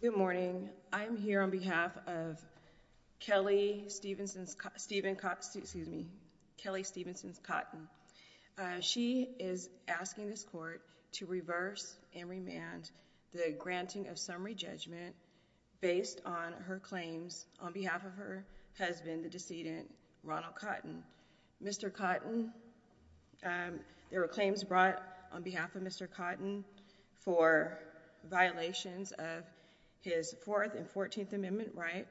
Good morning. I am here on behalf of Kelly Stephenson-Cotton. She is asking this court to reverse and remand the granting of summary judgment based on her claims on behalf of her husband, the decedent, Ronald Cotton. There were claims brought on behalf of Mr. Cotton for violations of his Fourth and Fourteenth Amendment right,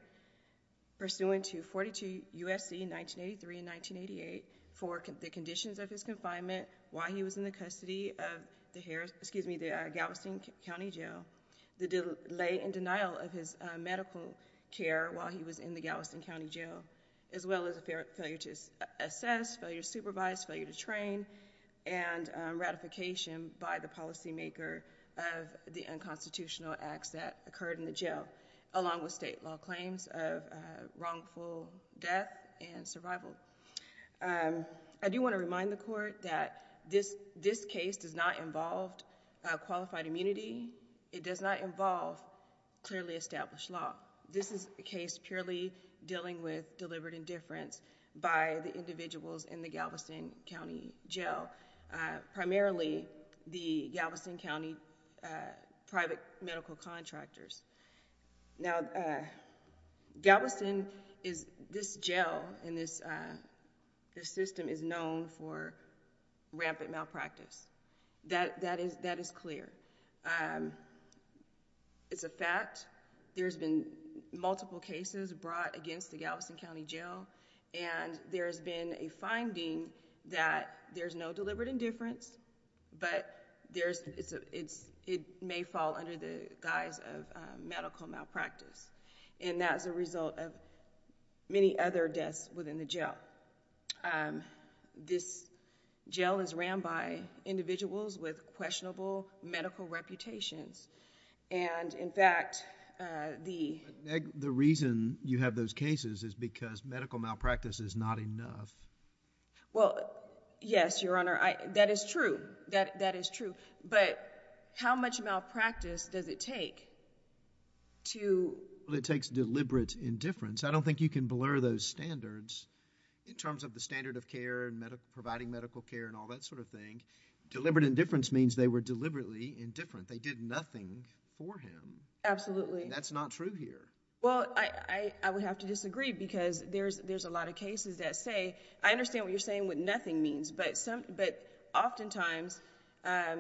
pursuant to 42 U.S.C. 1983 and 1988, for the conditions of his confinement while he was in the custody of the Galveston County Jail, the delay and denial of his medical care while he was in the Galveston County Jail, as well as a failure to assess, failure to supervise, failure to train, and ratification by the policymaker of the unconstitutional acts that occurred in the jail, along with state law claims of wrongful death and survival. I do want to remind the court that this case does not involve qualified immunity. It does not involve clearly established law. This is a case purely dealing with deliberate indifference by the individuals in the Galveston County Jail, primarily the Galveston County private medical contractors. Now, Galveston, this jail and this system is known for rampant malpractice. That is clear. It's a fact. There's been multiple cases brought against the Galveston County Jail, and there's been a finding that there's no deliberate indifference, but it may fall under the guise of medical malpractice, and that's a result of many other deaths within the jail. This jail is ran by individuals with questionable medical reputations, and in fact, the... But, Meg, the reason you have those cases is because medical malpractice is not enough. Well, yes, Your Honor. That is true. That is true. But how much malpractice does it take to... Well, it takes deliberate indifference. I don't think you can blur those standards in terms of the standard of care and providing medical care and all that sort of thing. Deliberate indifference means they were deliberately indifferent. They did nothing for him. Absolutely. That's not true here. Well, I would have to disagree because there's a lot of cases that say... I understand what you're saying with nothing means, but oftentimes, a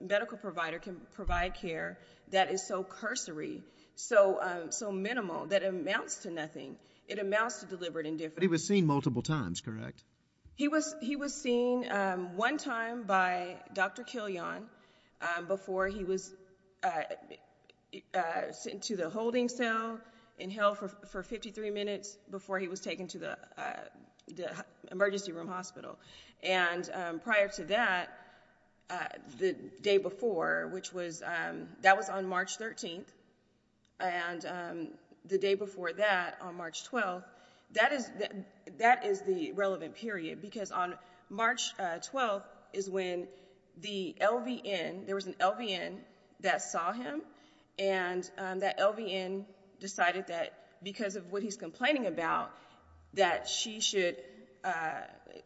medical provider can provide care that is so cursory, so minimal, that it amounts to nothing. It amounts to deliberate indifference. But he was seen multiple times, correct? He was seen one time by Dr. Killian before he was sent to the holding cell in hell for 53 minutes before he was taken to the emergency room hospital. And prior to that, the day before, which was... that was on March 13th. And the day before that, on March 12th, that is the relevant period because on March 12th is when the LVN... there was an LVN that saw him, and that LVN decided that because of what he's complaining about, that she should...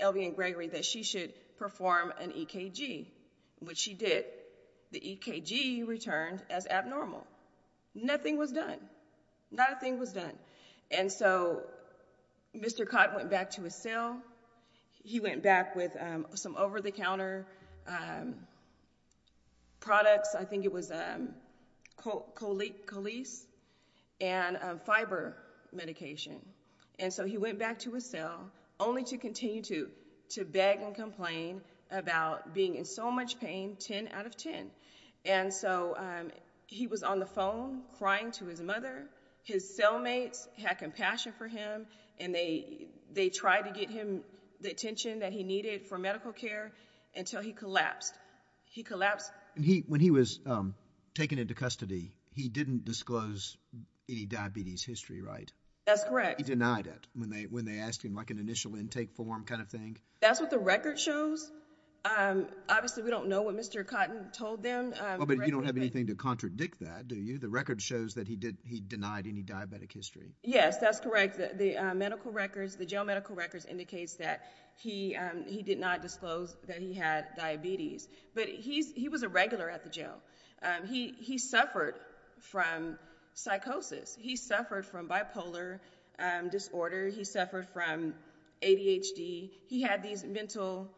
LVN Gregory, that she should perform an EKG, which she did. The EKG returned as Mr. Cott went back to his cell. He went back with some over-the-counter products. I think it was Colease and fiber medication. And so he went back to his cell, only to continue to beg and complain about being in so much pain, 10 out of 10. And so he was on the phone crying to his mother. His cellmates had compassion for him, and they tried to get him the attention that he needed for medical care until he collapsed. He collapsed... And when he was taken into custody, he didn't disclose any diabetes history, right? That's correct. He denied it when they asked him like an initial intake form kind of thing? That's what the record shows. Obviously, we don't know what Mr. Cotton told them. But you don't have anything to contradict that, do you? The record shows that he denied any diabetic history. Yes, that's correct. The medical records, the jail medical records indicates that he did not disclose that he had diabetes. But he was a regular at the jail. He suffered from psychosis. He suffered from bipolar disorder. He suffered from ADHD. He had these mental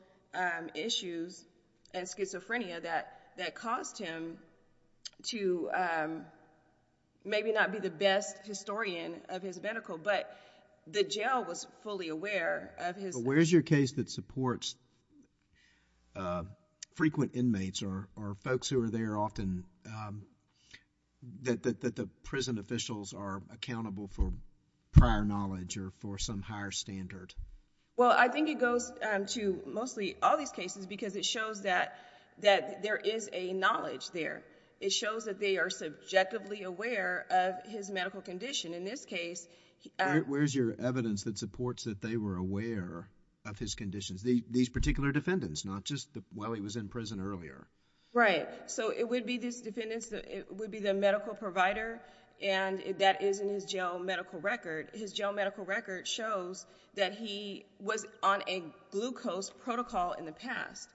issues and schizophrenia that caused him to maybe not be the best historian of his medical, but the jail was fully aware of his... Where's your case that supports frequent inmates or folks who are there often that the prison officials are accountable for prior knowledge or for some higher standard? Well, I think it goes to mostly all these cases because it shows that there is a knowledge there. It shows that they are subjectively aware of his medical condition. In this case... Where's your evidence that supports that they were aware of his conditions, these particular defendants, not just while he was in prison earlier? Right. So it would be these defendants, it would be the medical provider, and that is his jail medical record. His jail medical record shows that he was on a glucose protocol in the past,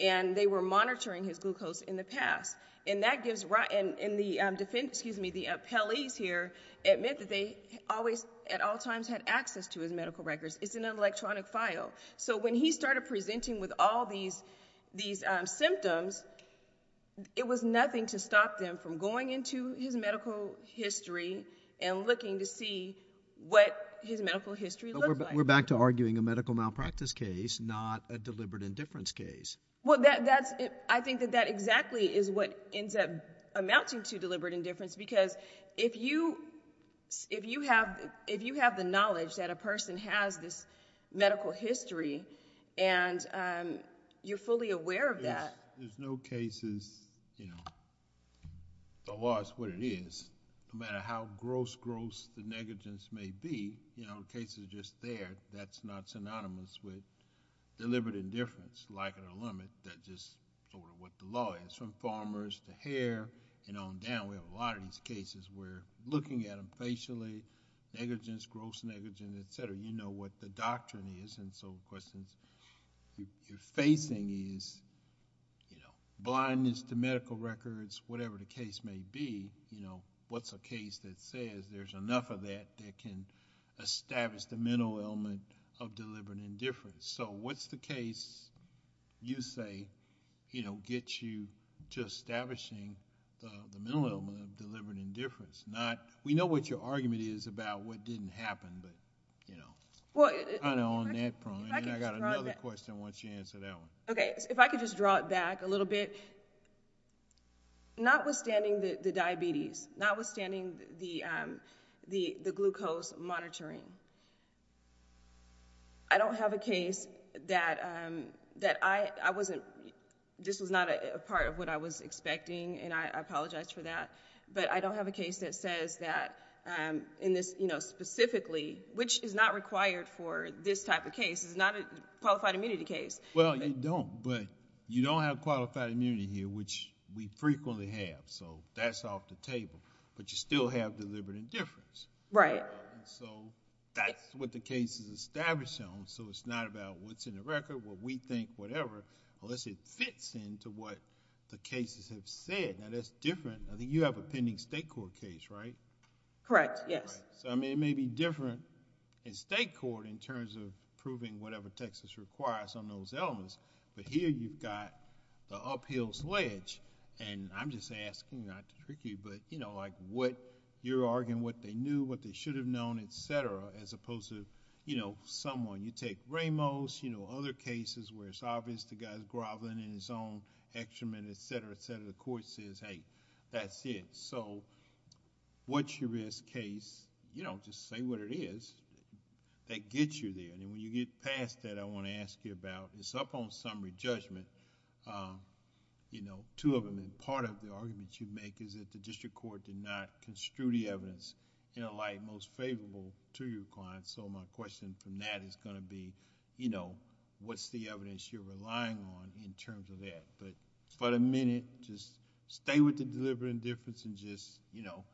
and they were monitoring his glucose in the past. And that gives... And the appellees here admit that they always, at all times, had access to his medical records. It's in an electronic file. So when he started presenting with all these symptoms, it was looking to see what his medical history looked like. We're back to arguing a medical malpractice case, not a deliberate indifference case. Well, that's... I think that that exactly is what ends up amounting to deliberate indifference because if you have the knowledge that a person has this medical history that you can't deny that... There's no cases, you know, the law is what it is. No matter how gross-gross the negligence may be, you know, the case is just there. That's not synonymous with deliberate indifference, lack of a limit, that just sort of what the law is. From farmers to hair and on down, we have a lot of these cases where looking at them facially, negligence, gross negligence, et cetera, you know what the doctrine is and so the questions you're facing is, you know, blindness to medical records, whatever the case may be, you know, what's a case that says there's enough of that that can establish the mental element of deliberate indifference? So what's the case you say, you know, gets you to establishing the mental element of deliberate indifference? We know what your argument is about what didn't happen, but, you know, kind of on that front, and I got another question once you answer that one. Okay, if I could just draw it back a little bit. Notwithstanding the diabetes, notwithstanding the glucose monitoring, I don't have a case that I wasn't... this was not a part of what I was expecting, and I apologize for that, but I don't have a case that says that in this, you know, specifically, which is not required for this type of case. It's not a qualified immunity case. Well, you don't, but you don't have qualified immunity here, which we frequently have, so that's off the table, but you still have deliberate indifference. Right. So that's what the case is established on, so it's not about what's in the record, what we think, whatever, unless it fits into what the cases have said. Now, that's different. I think you have a pending state court case, right? Correct, yes. So, I mean, it may be different in state court in terms of proving whatever Texas requires on those elements, but here you've got the uphill sledge, and I'm just asking, not to trick you, but, you know, like what you're arguing, what they knew, what they should have known, as opposed to, you know, someone, you take Ramos, you know, other cases where it's obvious the guy's groveling in his own excrement, et cetera, et cetera, the court says, hey, that's it. So, what's your risk case, you know, just say what it is, that gets you there, and when you get past that, I want to ask you about, it's up on summary judgment, you know, two of them, and part of the argument you make is that the district court did not to your client, so my question from that is going to be, you know, what's the evidence you're relying on in terms of that, but for the minute, just stay with the deliberate indifference and just, you know,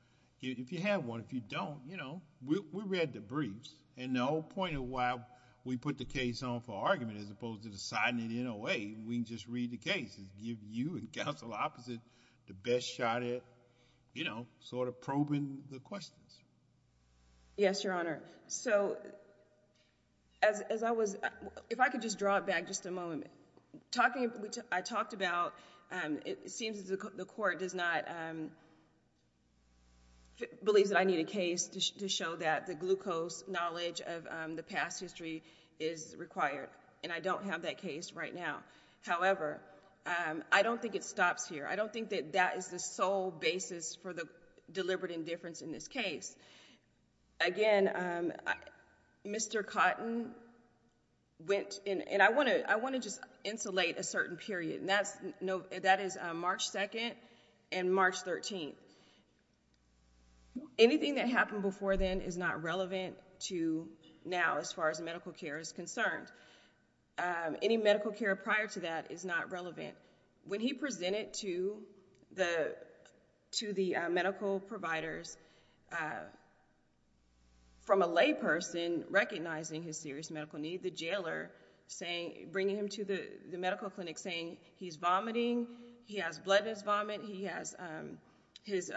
if you have one, if you don't, you know, we read the briefs, and the whole point of why we put the case on for argument as opposed to deciding it in a way, we can just read the case and give you and counsel opposite the best shot at, you know, sort of probing the questions. Yes, Your Honor. So, as I was, if I could just draw it back just a moment, talking, I talked about, it seems the court does not, believes that I need a case to show that the glucose knowledge of the past history is required, and I don't have that case right now. However, I don't think it stops here. I don't think that is the sole basis for the deliberate indifference in this case. Again, Mr. Cotton went, and I want to just insulate a certain period, and that is March 2nd and March 13th. Anything that happened before then is not relevant to now as far as medical care is concerned. Any medical care prior to that is not relevant. When he presented to the medical providers from a layperson recognizing his serious medical need, the jailer saying, bringing him to the medical clinic saying he's vomiting, he has bloodless vomit, he has, his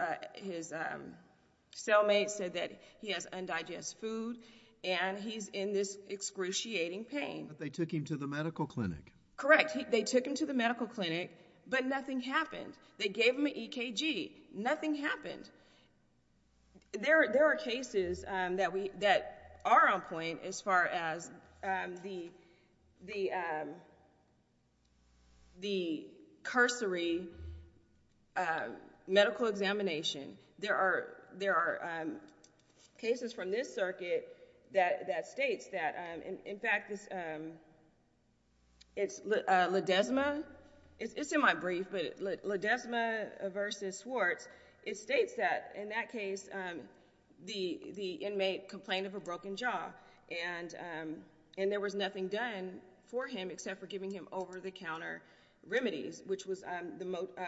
cellmate said that he has undigested food, and he's in this excruciating pain. They took him to the medical clinic. Correct. They took him to the medical clinic, but nothing happened. They gave him an EKG. Nothing happened. There are cases that are on point as far as the cursory medical examination. There are cases from this circuit that states that, in fact, it's Ledesma. It's in my brief, but Ledesma versus Swartz. It states that, in that case, the inmate complained of a broken jaw, and there was nothing done for him except for giving him over-the-counter remedies, which was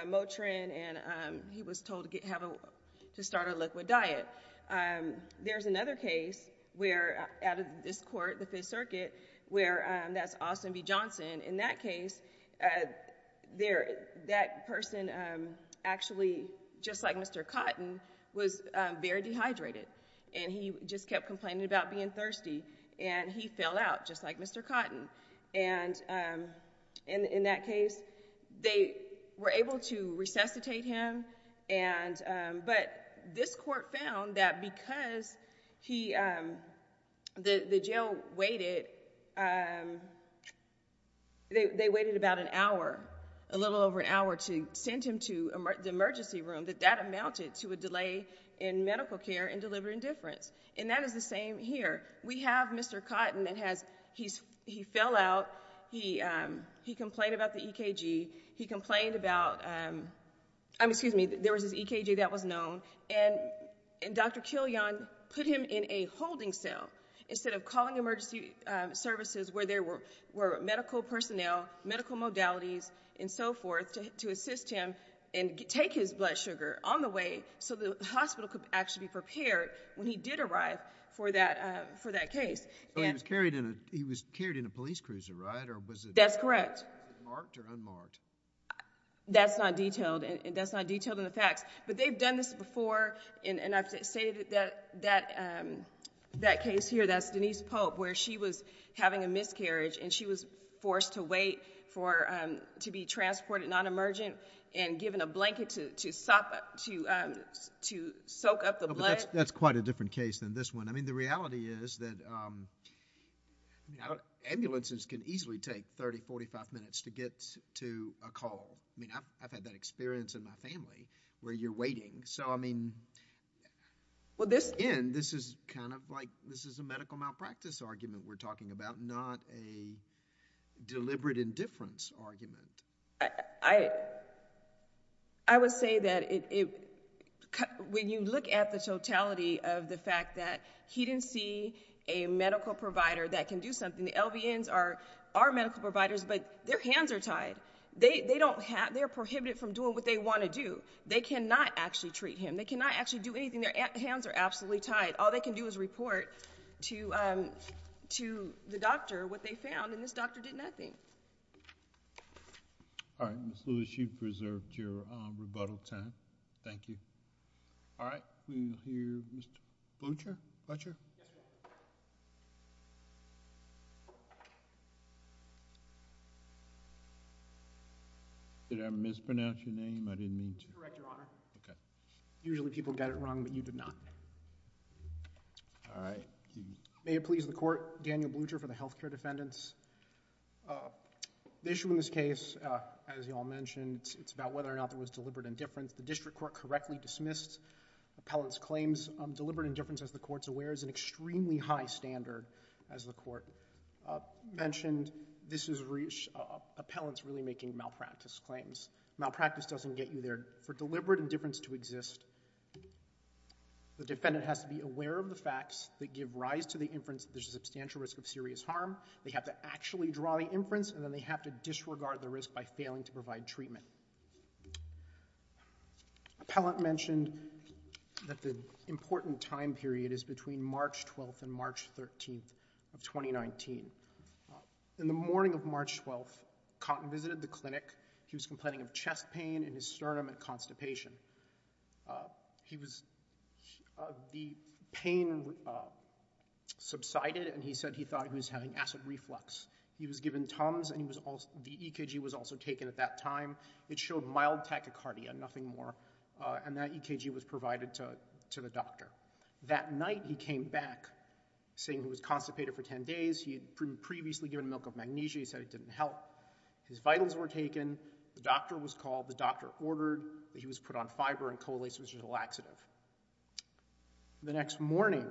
Motrin, and he was told to start a liquid diet. There's another case out of this court, the Fifth Circuit, where that's Austin v. Johnson. In that case, that person actually, just like Mr. Cotton, was very dehydrated, and he just kept complaining about being thirsty, and he fell out, just like Mr. Cotton. And in that case, they were able to resuscitate him, but this court found that because the jail waited, they waited about an hour, a little over an hour, to send him to the emergency room, that that amounted to a delay in medical care and delivery indifference, and that is the he complained about the EKG. He complained about, excuse me, there was this EKG that was known, and Dr. Killian put him in a holding cell instead of calling emergency services where there were medical personnel, medical modalities, and so forth to assist him and take his blood sugar on the way so the hospital could actually be prepared when he did arrive for that case. So he was carried in a police cruiser, right? That's correct. Was it marked or unmarked? That's not detailed, and that's not detailed in the facts, but they've done this before, and I've stated that case here, that's Denise Pope, where she was having a miscarriage, and she was forced to wait to be transported non-emergent and given a blanket to soak up the I mean, the reality is that ambulances can easily take 30, 45 minutes to get to a call. I mean, I've had that experience in my family where you're waiting. So I mean, again, this is kind of like, this is a medical malpractice argument we're talking about, not a deliberate indifference argument. I would say that when you look at the totality of the fact that he didn't see a medical provider that can do something, the LVNs are medical providers, but their hands are tied. They're prohibited from doing what they want to do. They cannot actually treat him. They cannot actually do anything. Their hands are absolutely tied. All they can do is report to the doctor what they found, and this doctor did nothing. All right. Ms. Lewis, you've preserved your rebuttal time. Thank you. All right. We'll hear Mr. Blucher. Blucher. Did I mispronounce your name? I didn't mean to. Correct, Your Honor. Okay. Usually people get it wrong, but you did not. All right. May it please the Court, Daniel Blucher for the health care defendants. The issue in this case, as you all mentioned, it's about whether or not there was deliberate indifference. The district court correctly dismissed appellant's claims. Deliberate indifference, as the Court's aware, is an extremely high standard. As the Court mentioned, this is appellants really making malpractice claims. Malpractice doesn't get you there. For deliberate indifference to exist, the defendant has to be aware of the facts that give rise to the inference that there's a substantial risk of serious harm. They have to actually draw the inference, and then they have to disregard the risk by failing to provide treatment. Appellant mentioned that the important time period is between March 12th and March 13th of 2019. In the morning of March 12th, Cotton visited the clinic. He was complaining of chest pain and his sternum had constipation. The pain subsided, and he said he thought he was having acid reflux. He was given Tums, and the EKG was also taken at that time. It showed mild tachycardia, nothing more, and that EKG was provided to the doctor. That night, he came back saying he was constipated for 10 days. He had previously given milk of magnesia. He said it didn't help. His vitals were taken. The doctor was called. Fiber and cholecystitial laxative. The next morning,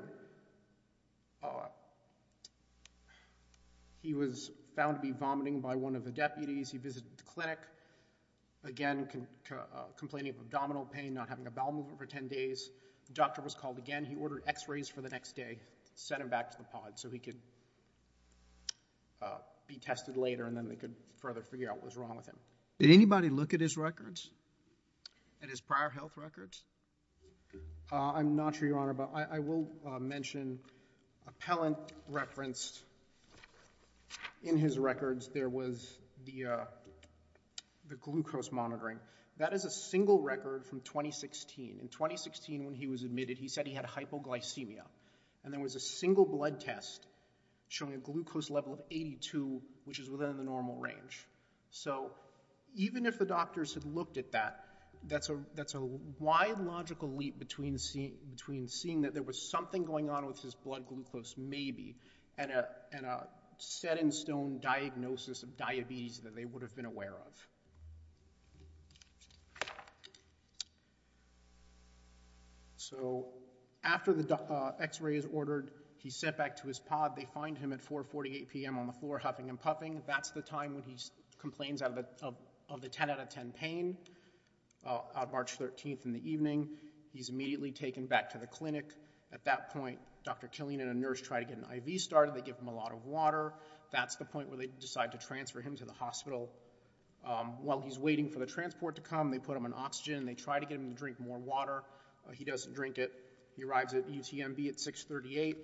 he was found to be vomiting by one of the deputies. He visited the clinic. Again, complaining of abdominal pain, not having a bowel movement for 10 days. The doctor was called again. He ordered x-rays for the next day, sent him back to the pod so he could be tested later, and then they could further figure out what was wrong with him. Did anybody look at his records? At his prior health records? I'm not sure, Your Honor, but I will mention a pellet referenced in his records. There was the glucose monitoring. That is a single record from 2016. In 2016, when he was admitted, he said he had hypoglycemia, and there was a single blood test showing a glucose level of 82, which is within the normal range. So even if the doctors had looked at that, that's a wide, logical leap between seeing that there was something going on with his blood glucose, maybe, and a set-in-stone diagnosis of diabetes that they would have been aware of. So after the x-ray is ordered, he's sent back to his pod. They find him at 4.48 p.m. on the floor, huffing and puffing. That's the time when he complains of the 10-out-of-10 pain on March 13th in the evening. He's immediately taken back to the clinic. At that point, Dr. Killian and a nurse try to get an IV started. They give him a lot of water. That's the point where they decide to transfer him to the hospital. While he's waiting for the transport to come, they put him on oxygen, and they try to get him to drink more water. He doesn't drink it. He arrives at UTMB at 6.38.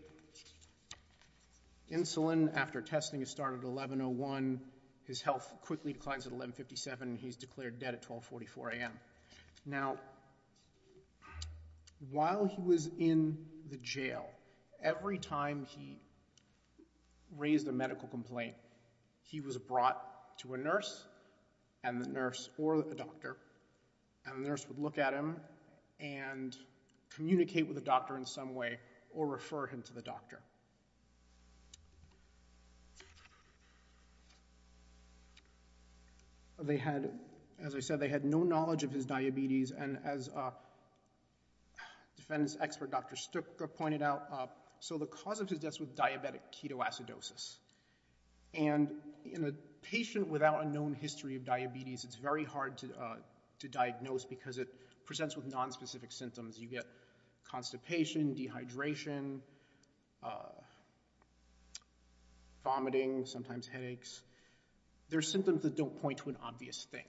Insulin, after testing, is started at 11.01. His health quickly declines at 11.57. He's declared dead at 12.44 a.m. Now, while he was in the jail, every time he raised a medical complaint, he was brought to a nurse or a doctor, and the nurse would look at him and communicate with the doctor in some way or refer him to the doctor. They had, as I said, they had no knowledge of his diabetes. And as a defense expert, Dr. Stooker, pointed out, so the cause of his death was diabetic ketoacidosis. And in a patient without a known history of diabetes, it's very hard to diagnose because it presents with nonspecific symptoms. You get constipation, dehydration, vomiting, sometimes headaches. There are symptoms that don't point to an obvious thing.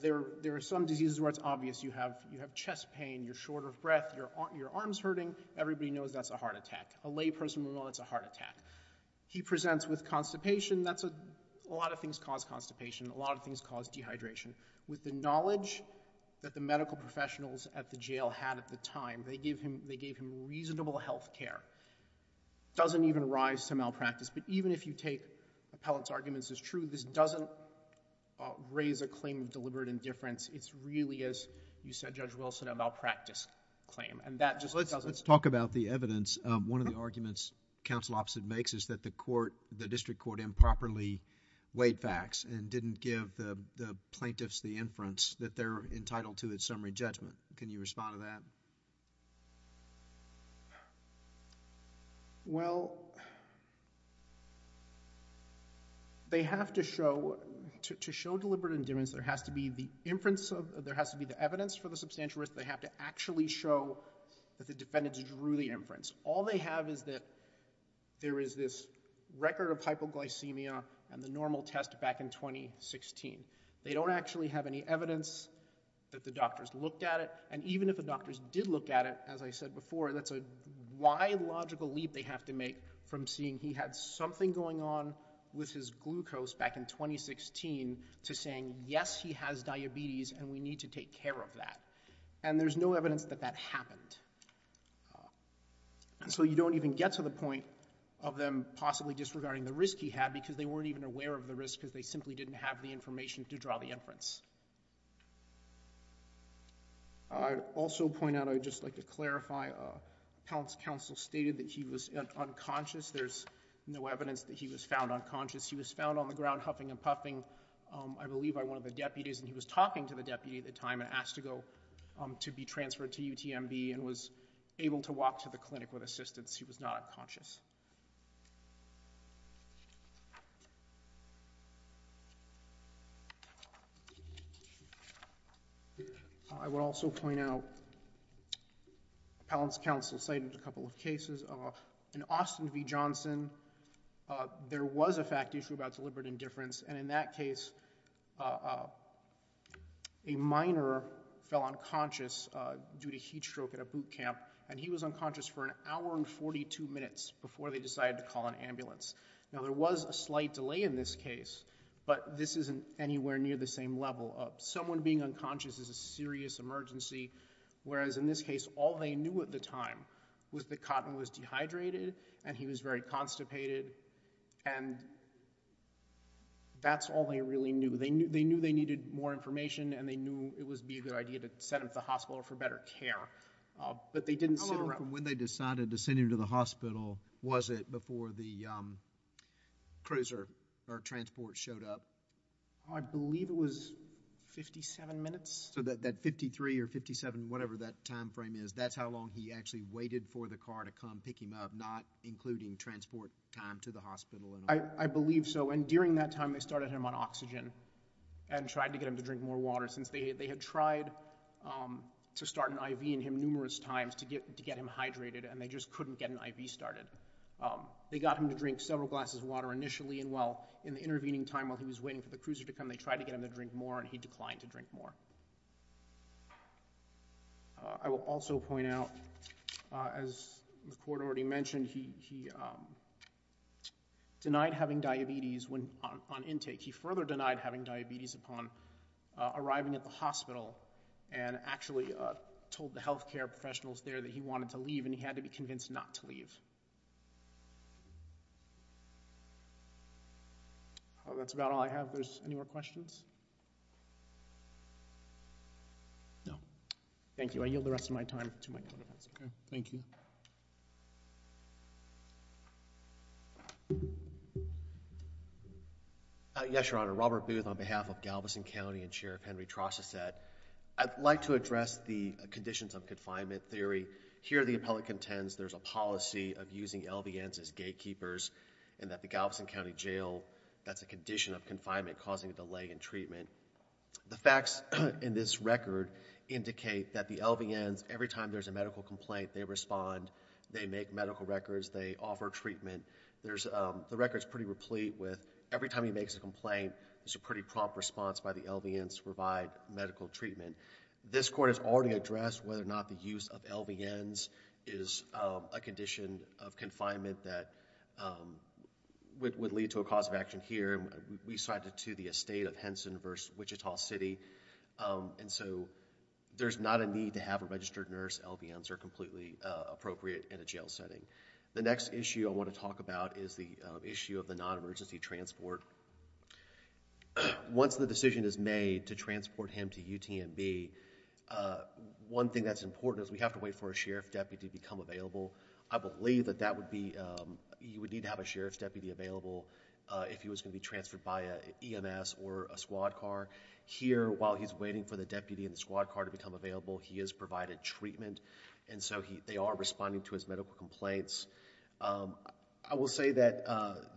There are some diseases where it's obvious. You have chest pain. You're short of breath. Your arm's hurting. Everybody knows that's a heart attack. A layperson will know that's a heart attack. He presents with constipation. That's a lot of things cause constipation. A lot of things cause dehydration. With the knowledge that the medical professionals at the jail had at the time, they gave him reasonable health care. It doesn't even rise to malpractice. But even if you take appellant's arguments as true, this doesn't raise a claim of deliberate indifference. It's really, as you said, Judge Wilson, a malpractice claim. And that just doesn't... Let's talk about the evidence. One of the arguments counsel opposite makes is that the court, the district court improperly weighed facts and didn't give the plaintiffs the inference that they're entitled to a summary judgment. Can you respond to that? Well, they have to show deliberate indifference. There has to be the inference of... There has to be the evidence for the substantial risk. They have to actually show that the defendant drew the inference. All they have is that there is this record of hypoglycemia and the normal test back in 2016. They don't actually have any evidence that the doctors looked at it. And even if the doctors did look at it, as I said before, that's a wide logical leap they have to make from seeing he had something going on with his glucose back in 2016 to saying, yes, he has diabetes and we need to take care of that. And there's no evidence that that happened. And so you don't even get to the point of them possibly disregarding the risk he had because they weren't even aware of the risk because they simply didn't have the information to draw the inference. I'd also point out, I'd just like to clarify, counsel stated that he was unconscious. There's no evidence that he was found unconscious. He was found on the ground huffing and puffing, I believe by one of the deputies. And he was talking to the deputy at the time and asked to go to be transferred to UTMB and was able to walk to the clinic with assistance. He was not unconscious. I would also point out, Appellant's counsel cited a couple of cases. In Austin v. Johnson, there was a fact issue about deliberate indifference. And in that case, a miner fell unconscious due to heat stroke at a boot camp. And he was unconscious for an hour and 42 minutes before they decided to call an ambulance. Now, there was a slight delay in this case, but this isn't anywhere near the same level. Someone being unconscious is a serious emergency. Whereas in this case, all they knew at the time was that Cotton was dehydrated and he was very constipated. And that's all they really knew. They knew they needed more information and they knew it would be a good idea to send him to the hospital for better care. But they didn't sit around. When they decided to send him to the hospital, was it before the cruiser or transport showed up? I believe it was 57 minutes. So that 53 or 57, whatever that time frame is, that's how long he actually waited for the car to come pick him up, not including transport time to the hospital. I believe so. And during that time, they started him on oxygen and tried to get him to drink more water since they had tried to start an IV in him numerous times to get him hydrated. And they just couldn't get an IV started. They got him to drink several glasses of water initially. And while in the intervening time, while he was waiting for the cruiser to come, they tried to get him to drink more and he declined to drink more. I will also point out, as the court already mentioned, he denied having diabetes on intake. He further denied having diabetes upon arriving at the hospital and actually told the health care professionals there that he wanted to leave and he had to be convinced not to leave. That's about all I have. There's any more questions? No. Thank you. I yield the rest of my time to my co-defendants. OK. Thank you. Yes, Your Honor. Robert Booth on behalf of Galveston County and Chair Henry Trosteset. I'd like to address the conditions of confinement theory. Here, the appellate contends there's a policy of using LVNs as gatekeepers and that the Galveston County Jail, that's a condition of confinement causing a delay in treatment. The facts in this record indicate that the LVNs, every time there's a medical complaint, they respond. They make medical records. They offer treatment. The record's pretty replete with every time he makes a complaint, there's a pretty prompt response by the LVNs to provide medical treatment. This court has already addressed whether or not the use of LVNs is a condition of confinement that would lead to a cause of action here. We cited to the estate of Henson versus Wichita City. And so, there's not a need to have a registered nurse. LVNs are completely appropriate in a jail setting. The next issue I want to talk about is the issue of the non-emergency transport. Once the decision is made to transport him to UTMB, one thing that's important is we have to wait for a sheriff deputy to become available. I believe that you would need to have a sheriff's deputy available if he was going to be transferred by an EMS or a squad car. Here, while he's waiting for the deputy and the squad car to become available, he is provided treatment. And so, they are responding to his medical complaints. I will say that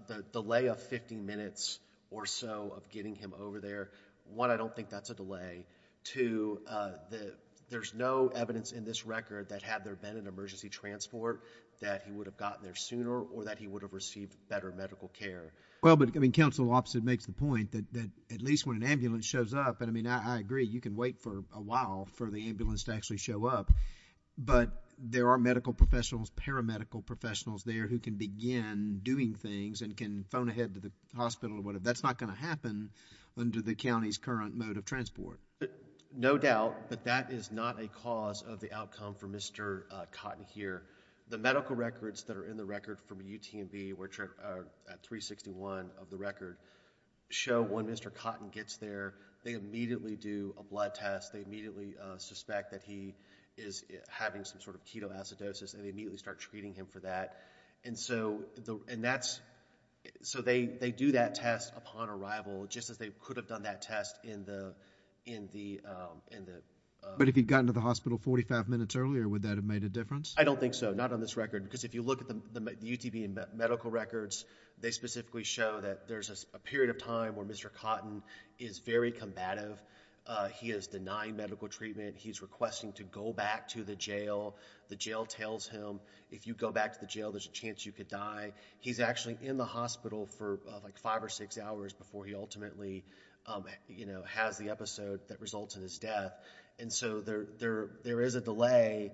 the delay of 15 minutes or so of getting him over there, one, I don't think that's a delay. Two, there's no evidence in this record that had there been an emergency transport that he would have gotten there sooner or that he would have received better medical care. Well, but, I mean, counsel, opposite makes the point that at least when an ambulance shows up, and I mean, I agree, you can wait for a while for the ambulance to actually show up, but there are medical professionals, paramedical professionals there who can begin doing things and can phone ahead to the hospital or whatever. That's not going to happen under the county's current mode of transport. No doubt, but that is not a cause of the outcome for Mr. Cotton here. The medical records that are in the record from UTMB, which are at 361 of the record, show when Mr. Cotton gets there, they immediately do a blood test. They immediately suspect that he is having some sort of ketoacidosis and they immediately start treating him for that. And so, and that's, so they do that test upon arrival just as they could have done that test in the, in the, in the. But if he'd gotten to the hospital 45 minutes earlier, would that have made a difference? I don't think so. Not on this record, because if you look at the UTB medical records, they specifically show that there's a period of time where Mr. Cotton is very combative. He is denying medical treatment. He's requesting to go back to the jail. The jail tells him, if you go back to the jail, there's a chance you could die. He's actually in the hospital for like five or six hours before he ultimately, you know, has the episode that results in his death. And so, there, there, there is a delay,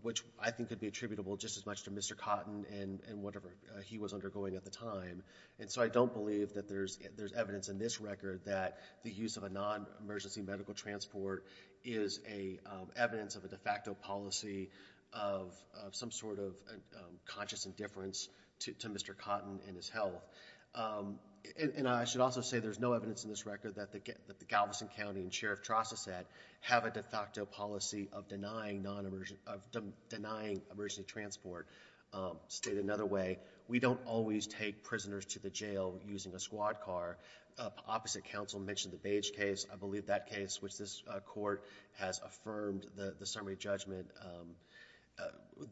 which I think could be attributable just as much to Mr. Cotton and, and whatever he was undergoing at the time. And so, I don't believe that there's, there's evidence in this record that the use of a non-emergency medical transport is a evidence of a de facto policy of some sort of conscious indifference to Mr. Cotton and his health. And I should also say there's no evidence in this record that the Galveston County and Sheriff Trostiset have a de facto policy of denying non-emergency, of denying emergency transport. State another way, we don't always take prisoners to the jail using a squad car. Opposite counsel mentioned the Bage case. I believe that case, which this court has affirmed the summary judgment,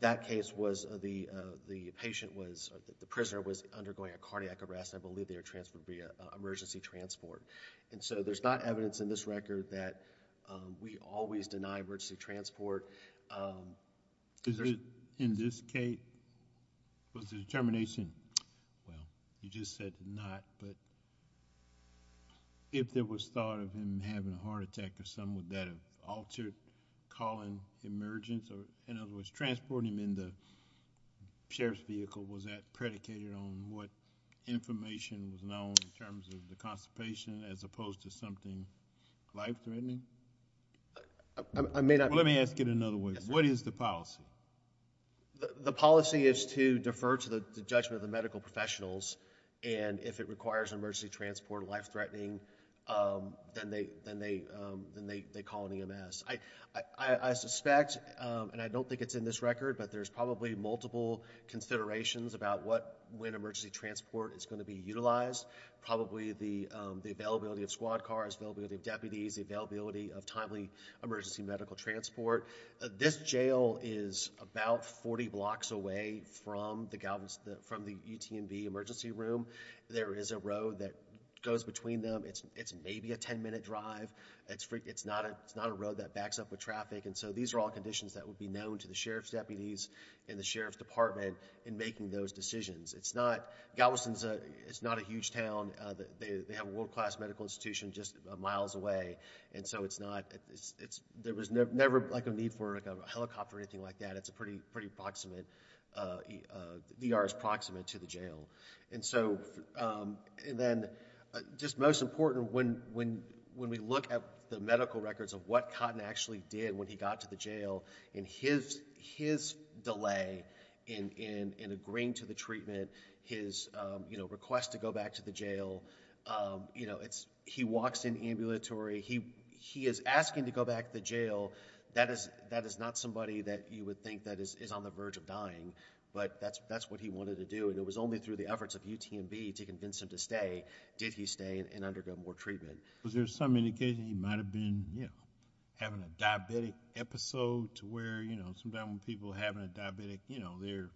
that case was the, the patient was, the prisoner was undergoing a cardiac arrest. I believe they were transferred via emergency transport. And so, there's not evidence in this record that we always deny emergency transport. Is it, in this case, was the determination, well, you just said not, but if there was thought of him having a heart attack or something, would that have altered Colin's emergence? Or in other words, transporting him in the Sheriff's vehicle, was that predicated on what information was known in terms of the constipation, as opposed to something life-threatening? I may not. Let me ask it another way. What is the policy? The policy is to defer to the judgment of the medical professionals. And if it requires emergency transport, life-threatening, then they, then they, then they, they call an EMS. I, I, I suspect, and I don't think it's in this record, but there's probably multiple considerations about what, when emergency transport is going to be utilized. Probably the, the availability of squad cars, availability of deputies, the availability of timely emergency medical transport. This jail is about 40 blocks away from the, from the UTMV emergency room. There is a road that goes between them. It's, it's maybe a 10-minute drive. It's, it's not a, it's not a road that backs up with traffic. And so these are all conditions that would be known to the sheriff's deputies and the sheriff's department in making those decisions. It's not, Galveston's a, it's not a huge town. Uh, they, they have a world-class medical institution just miles away. And so it's not, it's, it's, there was never, never like a need for like a helicopter or anything like that. It's a pretty, pretty proximate, uh, uh, DR is proximate to the jail. And so, um, and then, uh, just most important when, when, when we look at the medical records of what Cotton actually did when he got to the jail and his, his delay in, in, in agreeing to the treatment, his, um, you know, request to go back to the jail, um, you know, it's, he walks in ambulatory. He, he is asking to go back to the jail. That is, that is not somebody that you would think that is, is on the verge of dying. But that's, that's what he wanted to do. And it was only through the efforts of UTMB to convince him to stay. Did he stay and undergo more treatment? Was there some indication he might've been, you know, having a diabetic episode to where, you know, sometimes when people having a diabetic, you know, they're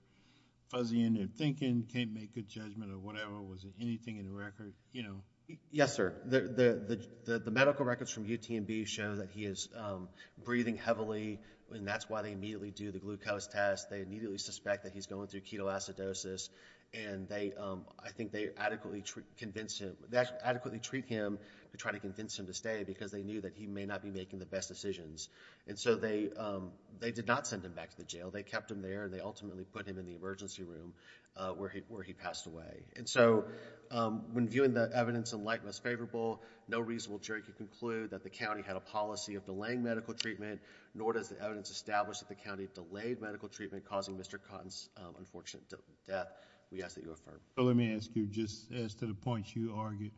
fuzzy in their thinking, can't make a judgment or whatever. Was it anything in the record? You know? Yes, sir. The, the, the, the, the medical records from UTMB show that he is, um, breathing heavily and that's why they immediately do the glucose test. They immediately suspect that he's going through ketoacidosis and they, um, I think they adequately convince him, adequately treat him to try to convince him to stay because they knew that he may not be making the best decisions. And so they, um, they did not send him back to the jail. They kept him there. They ultimately put him in the emergency room, uh, where he, where he passed away. And so, um, when viewing the evidence in light of what's favorable, no reasonable jury could conclude that the county had a policy of delaying medical treatment, nor does the evidence establish that the county delayed medical treatment causing Mr. Cotton's, um, unfortunate death. We ask that you affirm. So let me ask you, just as to the points you argued,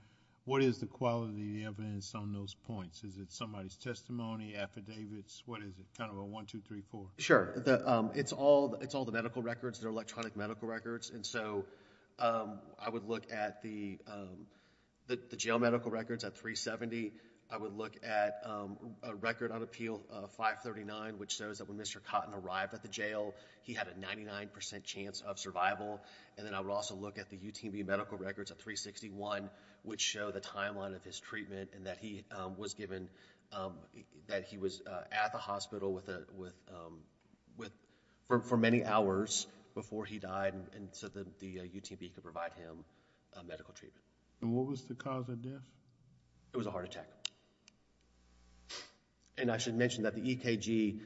what is the quality of the evidence on those points? Is it somebody's testimony, affidavits? What is it? Kind of a one, two, three, four. Sure. The, um, it's all, it's all the medical records, their electronic medical records. And so, um, I would look at the, um, the, the jail medical records at 370. I would look at, um, a record on appeal, uh, 539, which shows that when Mr. Cotton arrived at the jail, he had a 99% chance of survival. And then I would also look at the UTB medical records at 361, which show the timeline of his treatment and that he, um, was given, um, that he was, uh, at the hospital with a, with, um, with, for, for many hours before he died. And so the, the, uh, UTB could provide him, uh, medical treatment. And what was the cause of death? It was a heart attack. And I should mention that the EKG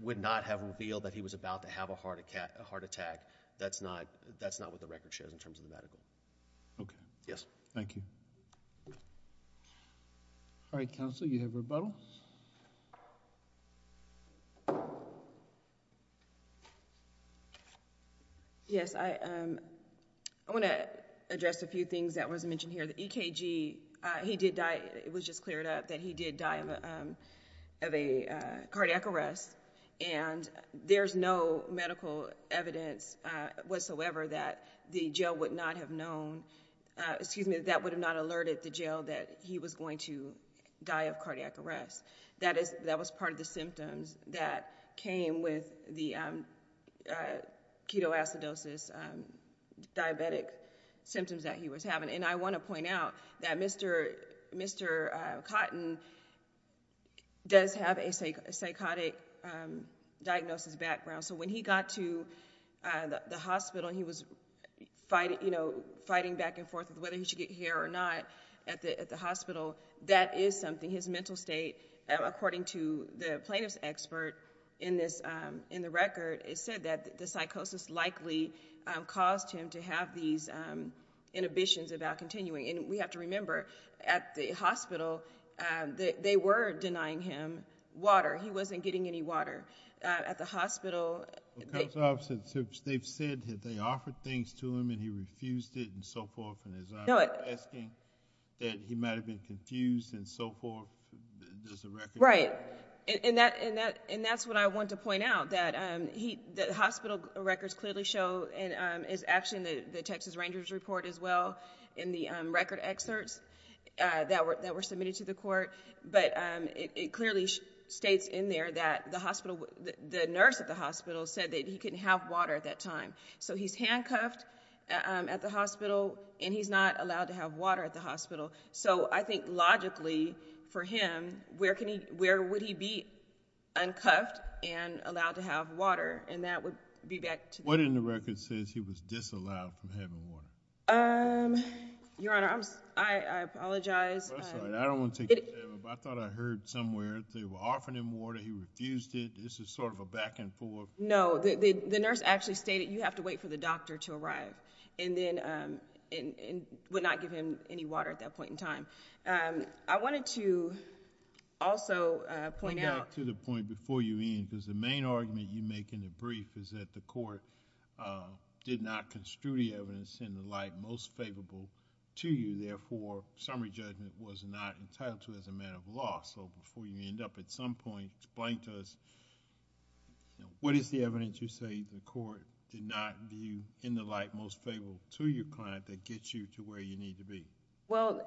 would not have revealed that he was about to have a heart, a heart attack. That's not, that's not what the record shows in terms of the medical. Okay. Yes. Thank you. All right, counsel, you have rebuttal. Yes, I, um, I want to address a few things that wasn't mentioned here. The EKG, uh, he did die. It was just cleared up that he did die of, um, of a, uh, cardiac arrest. And there's no medical evidence, uh, whatsoever that the jail would not have known, uh, excuse me, that would have not alerted the jail that he was going to die of cardiac arrest. That is, that was part of the symptoms that came with the, um, uh, ketoacidosis, um, diabetic symptoms that he was having. And I want to point out that Mr. Cotton does have a psychotic diagnosis background. So when he got to the hospital and he was fighting, you know, fighting back and forth with whether he should get here or not at the, at the hospital, that is something, his mental state, according to the plaintiff's expert in this, um, in the record, it said that the psychosis likely, um, caused him to have these, um, inhibitions about continuing. And we have to remember at the hospital, um, that they were denying him water. He wasn't getting any water, uh, at the hospital. They've said that they offered things to him and he refused it and so forth. And as I'm asking that he might've been confused and so forth, there's a record. And that, and that, and that's what I want to point out that, um, he, the hospital records clearly show and, um, is actually in the, the Texas Rangers report as well in the, um, record excerpts, uh, that were, that were submitted to the court. But, um, it, it clearly states in there that the hospital, the nurse at the hospital said that he couldn't have water at that time. So he's handcuffed, um, at the hospital and he's not allowed to have water at the hospital. So I think logically for him, where can he, where would he be uncuffed and allowed to have water? And that would be back to- What in the record says he was disallowed from having water? Um, Your Honor, I'm, I, I apologize. That's all right. I don't want to take your time. I thought I heard somewhere they were offering him water. He refused it. This is sort of a back and forth. No, the, the, the nurse actually stated you have to wait for the doctor to arrive and then, um, and, and would not give him any water at that point in time. Um, I wanted to also, uh, point out- Back to the point before you end, because the main argument you make in the brief is that the court, uh, did not construe the evidence in the light most favorable to you. Therefore, summary judgment was not entitled to as a matter of law. So before you end up at some point, explain to us, you know, what is the evidence you say the court did not view in the light most favorable to your client that gets you to where you need to be? Well,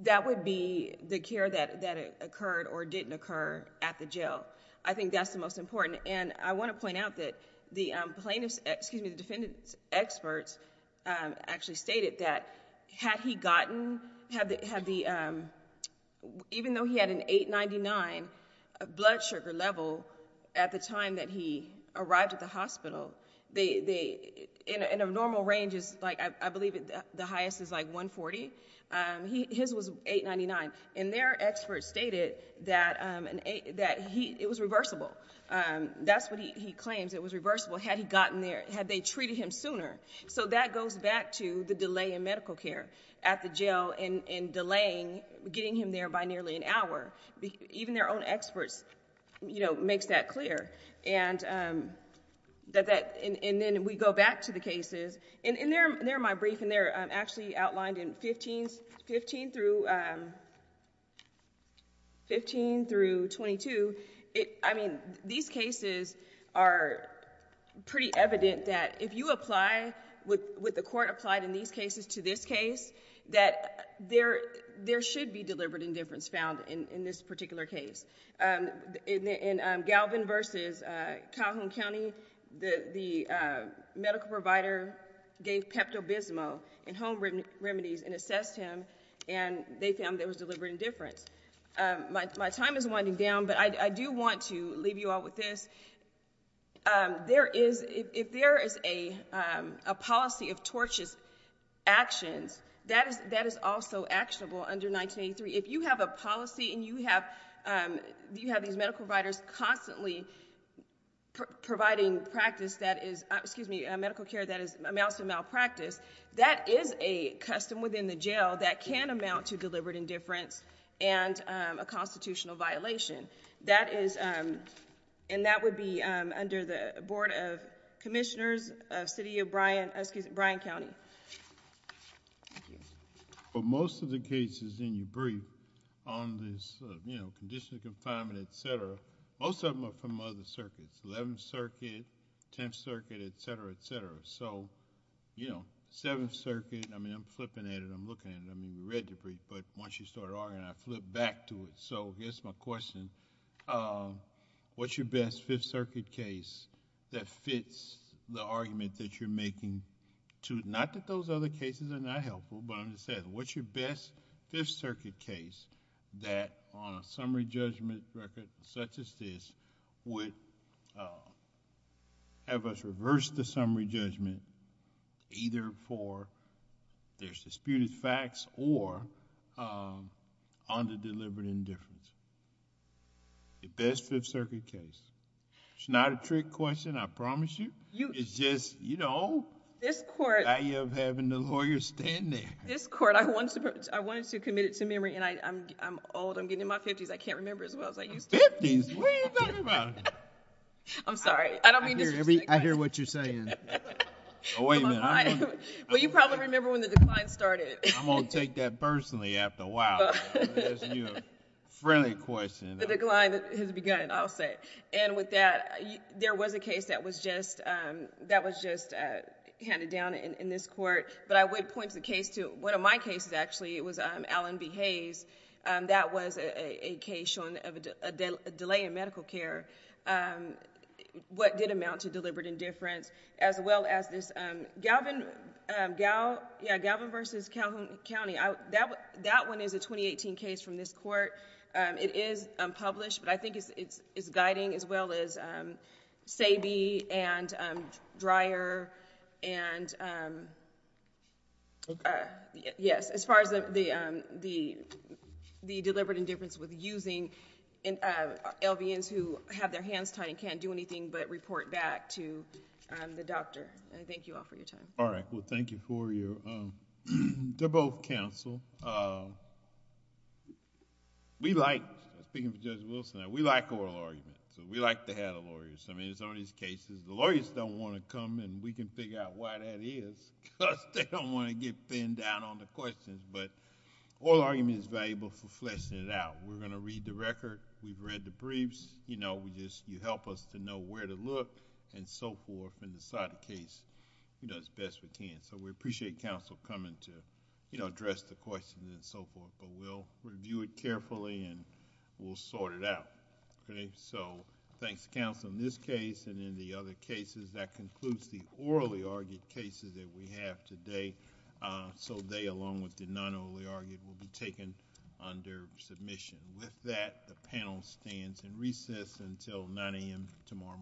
that would be the care that, that occurred or didn't occur at the jail. I think that's the most important. And I want to point out that the plaintiff's, excuse me, the defendant's experts, um, actually stated that had he gotten, had the, had the, um, even though he had an 899 blood sugar level at the time that he arrived at the hospital, they, they, in a normal range is like, I believe the highest is like 140. Um, he, his was 899 and their experts stated that, um, that he, it was reversible. Um, that's what he claims. It was reversible. Had he gotten there, had they treated him sooner? So that goes back to the delay in medical care at the jail and, and delaying getting him there by nearly an hour. Even their own experts, you know, makes that clear. And, um, that, that, and, and then we go back to the cases and, and they're, they're my brief and they're, um, actually outlined in 15, 15 through, um, 15 through 22. It, I mean, these cases are pretty evident that if you apply with, with the court applied in these cases to this case, that there, there should be deliberate indifference found in, in this particular case. Um, in, in, um, Galvin versus, uh, Calhoun County, the, the, uh, medical provider gave Pepto Bismol and home remedies and assessed him and they found there was deliberate indifference. Um, my, my time is winding down, but I do want to leave you all with this. Um, there is, if there is a, um, a policy of tortious actions, that is, that is also actionable under 1983. If you have a policy and you have, um, you have these medical providers constantly providing practice that is, uh, excuse me, medical care that is amounts to malpractice, that is a custom within the jail that can amount to deliberate indifference and, um, a constitutional violation. That is, um, and that would be, um, under the Board of Commissioners of City of Bryan, excuse me, Bryan County. Thank you. Thank you. But most of the cases in your brief on this, uh, you know, condition of confinement, et cetera, most of them are from other circuits. Eleventh Circuit, Tenth Circuit, et cetera, et cetera. So, you know, Seventh Circuit, I mean, I'm flipping at it. I'm looking at it. I mean, you read the brief, but once you started arguing, I flipped back to it. So, here's my question. Um, what's your best Fifth Circuit case that fits the argument that you're making to... not that those other cases are not helpful, but I'm just saying, what's your best Fifth Circuit case that on a summary judgment record such as this would, uh, have us reverse the summary judgment either for there's disputed facts or, um, under deliberate indifference? The best Fifth Circuit case. It's not a trick question, I promise you. It's just, you know, the value of having the lawyer standing. This court, I wanted to commit it to memory, and I'm old. I'm getting in my fifties. I can't remember as well as I used to. Fifties? What are you talking about? I'm sorry. I don't mean to disrespect... I hear what you're saying. Oh, wait a minute. Well, you probably remember when the decline started. I'm going to take that personally after a while. I'm going to ask you a friendly question. The decline has begun, I'll say. And with that, there was a case that was just handed down in this court, but I would point the case to one of my cases, actually. It was Allen v. Hayes. That was a case showing a delay in medical care. What did amount to deliberate indifference? As well as this Galvin v. Calhoun County. That one is a 2018 case from this court. It is published, but I think it's guiding as well as SABE and DRYER and... Yes, as far as the deliberate indifference with using LVNs who have their hands tied and can't do anything but report back to the doctor. Thank you all for your time. All right. Well, thank you for your... They're both counsel. We like, speaking for Judge Wilson, we like oral arguments. We like to have the lawyers. I mean, it's one of these cases, the lawyers don't want to come and we can figure out why that is because they don't want to get thinned down on the questions, but oral argument is valuable for fleshing it out. We're going to read the record. We've read the briefs. You help us to know where to look and so forth and decide the case as best we can. We appreciate counsel coming to address the questions and so forth, but we'll review it carefully and we'll sort it out. So thanks to counsel in this case and in the other cases. That concludes the orally argued cases that we have today. So they, along with the non-orally argued, will be taken under submission. With that, the panel stands and recess until 9 a.m. tomorrow morning.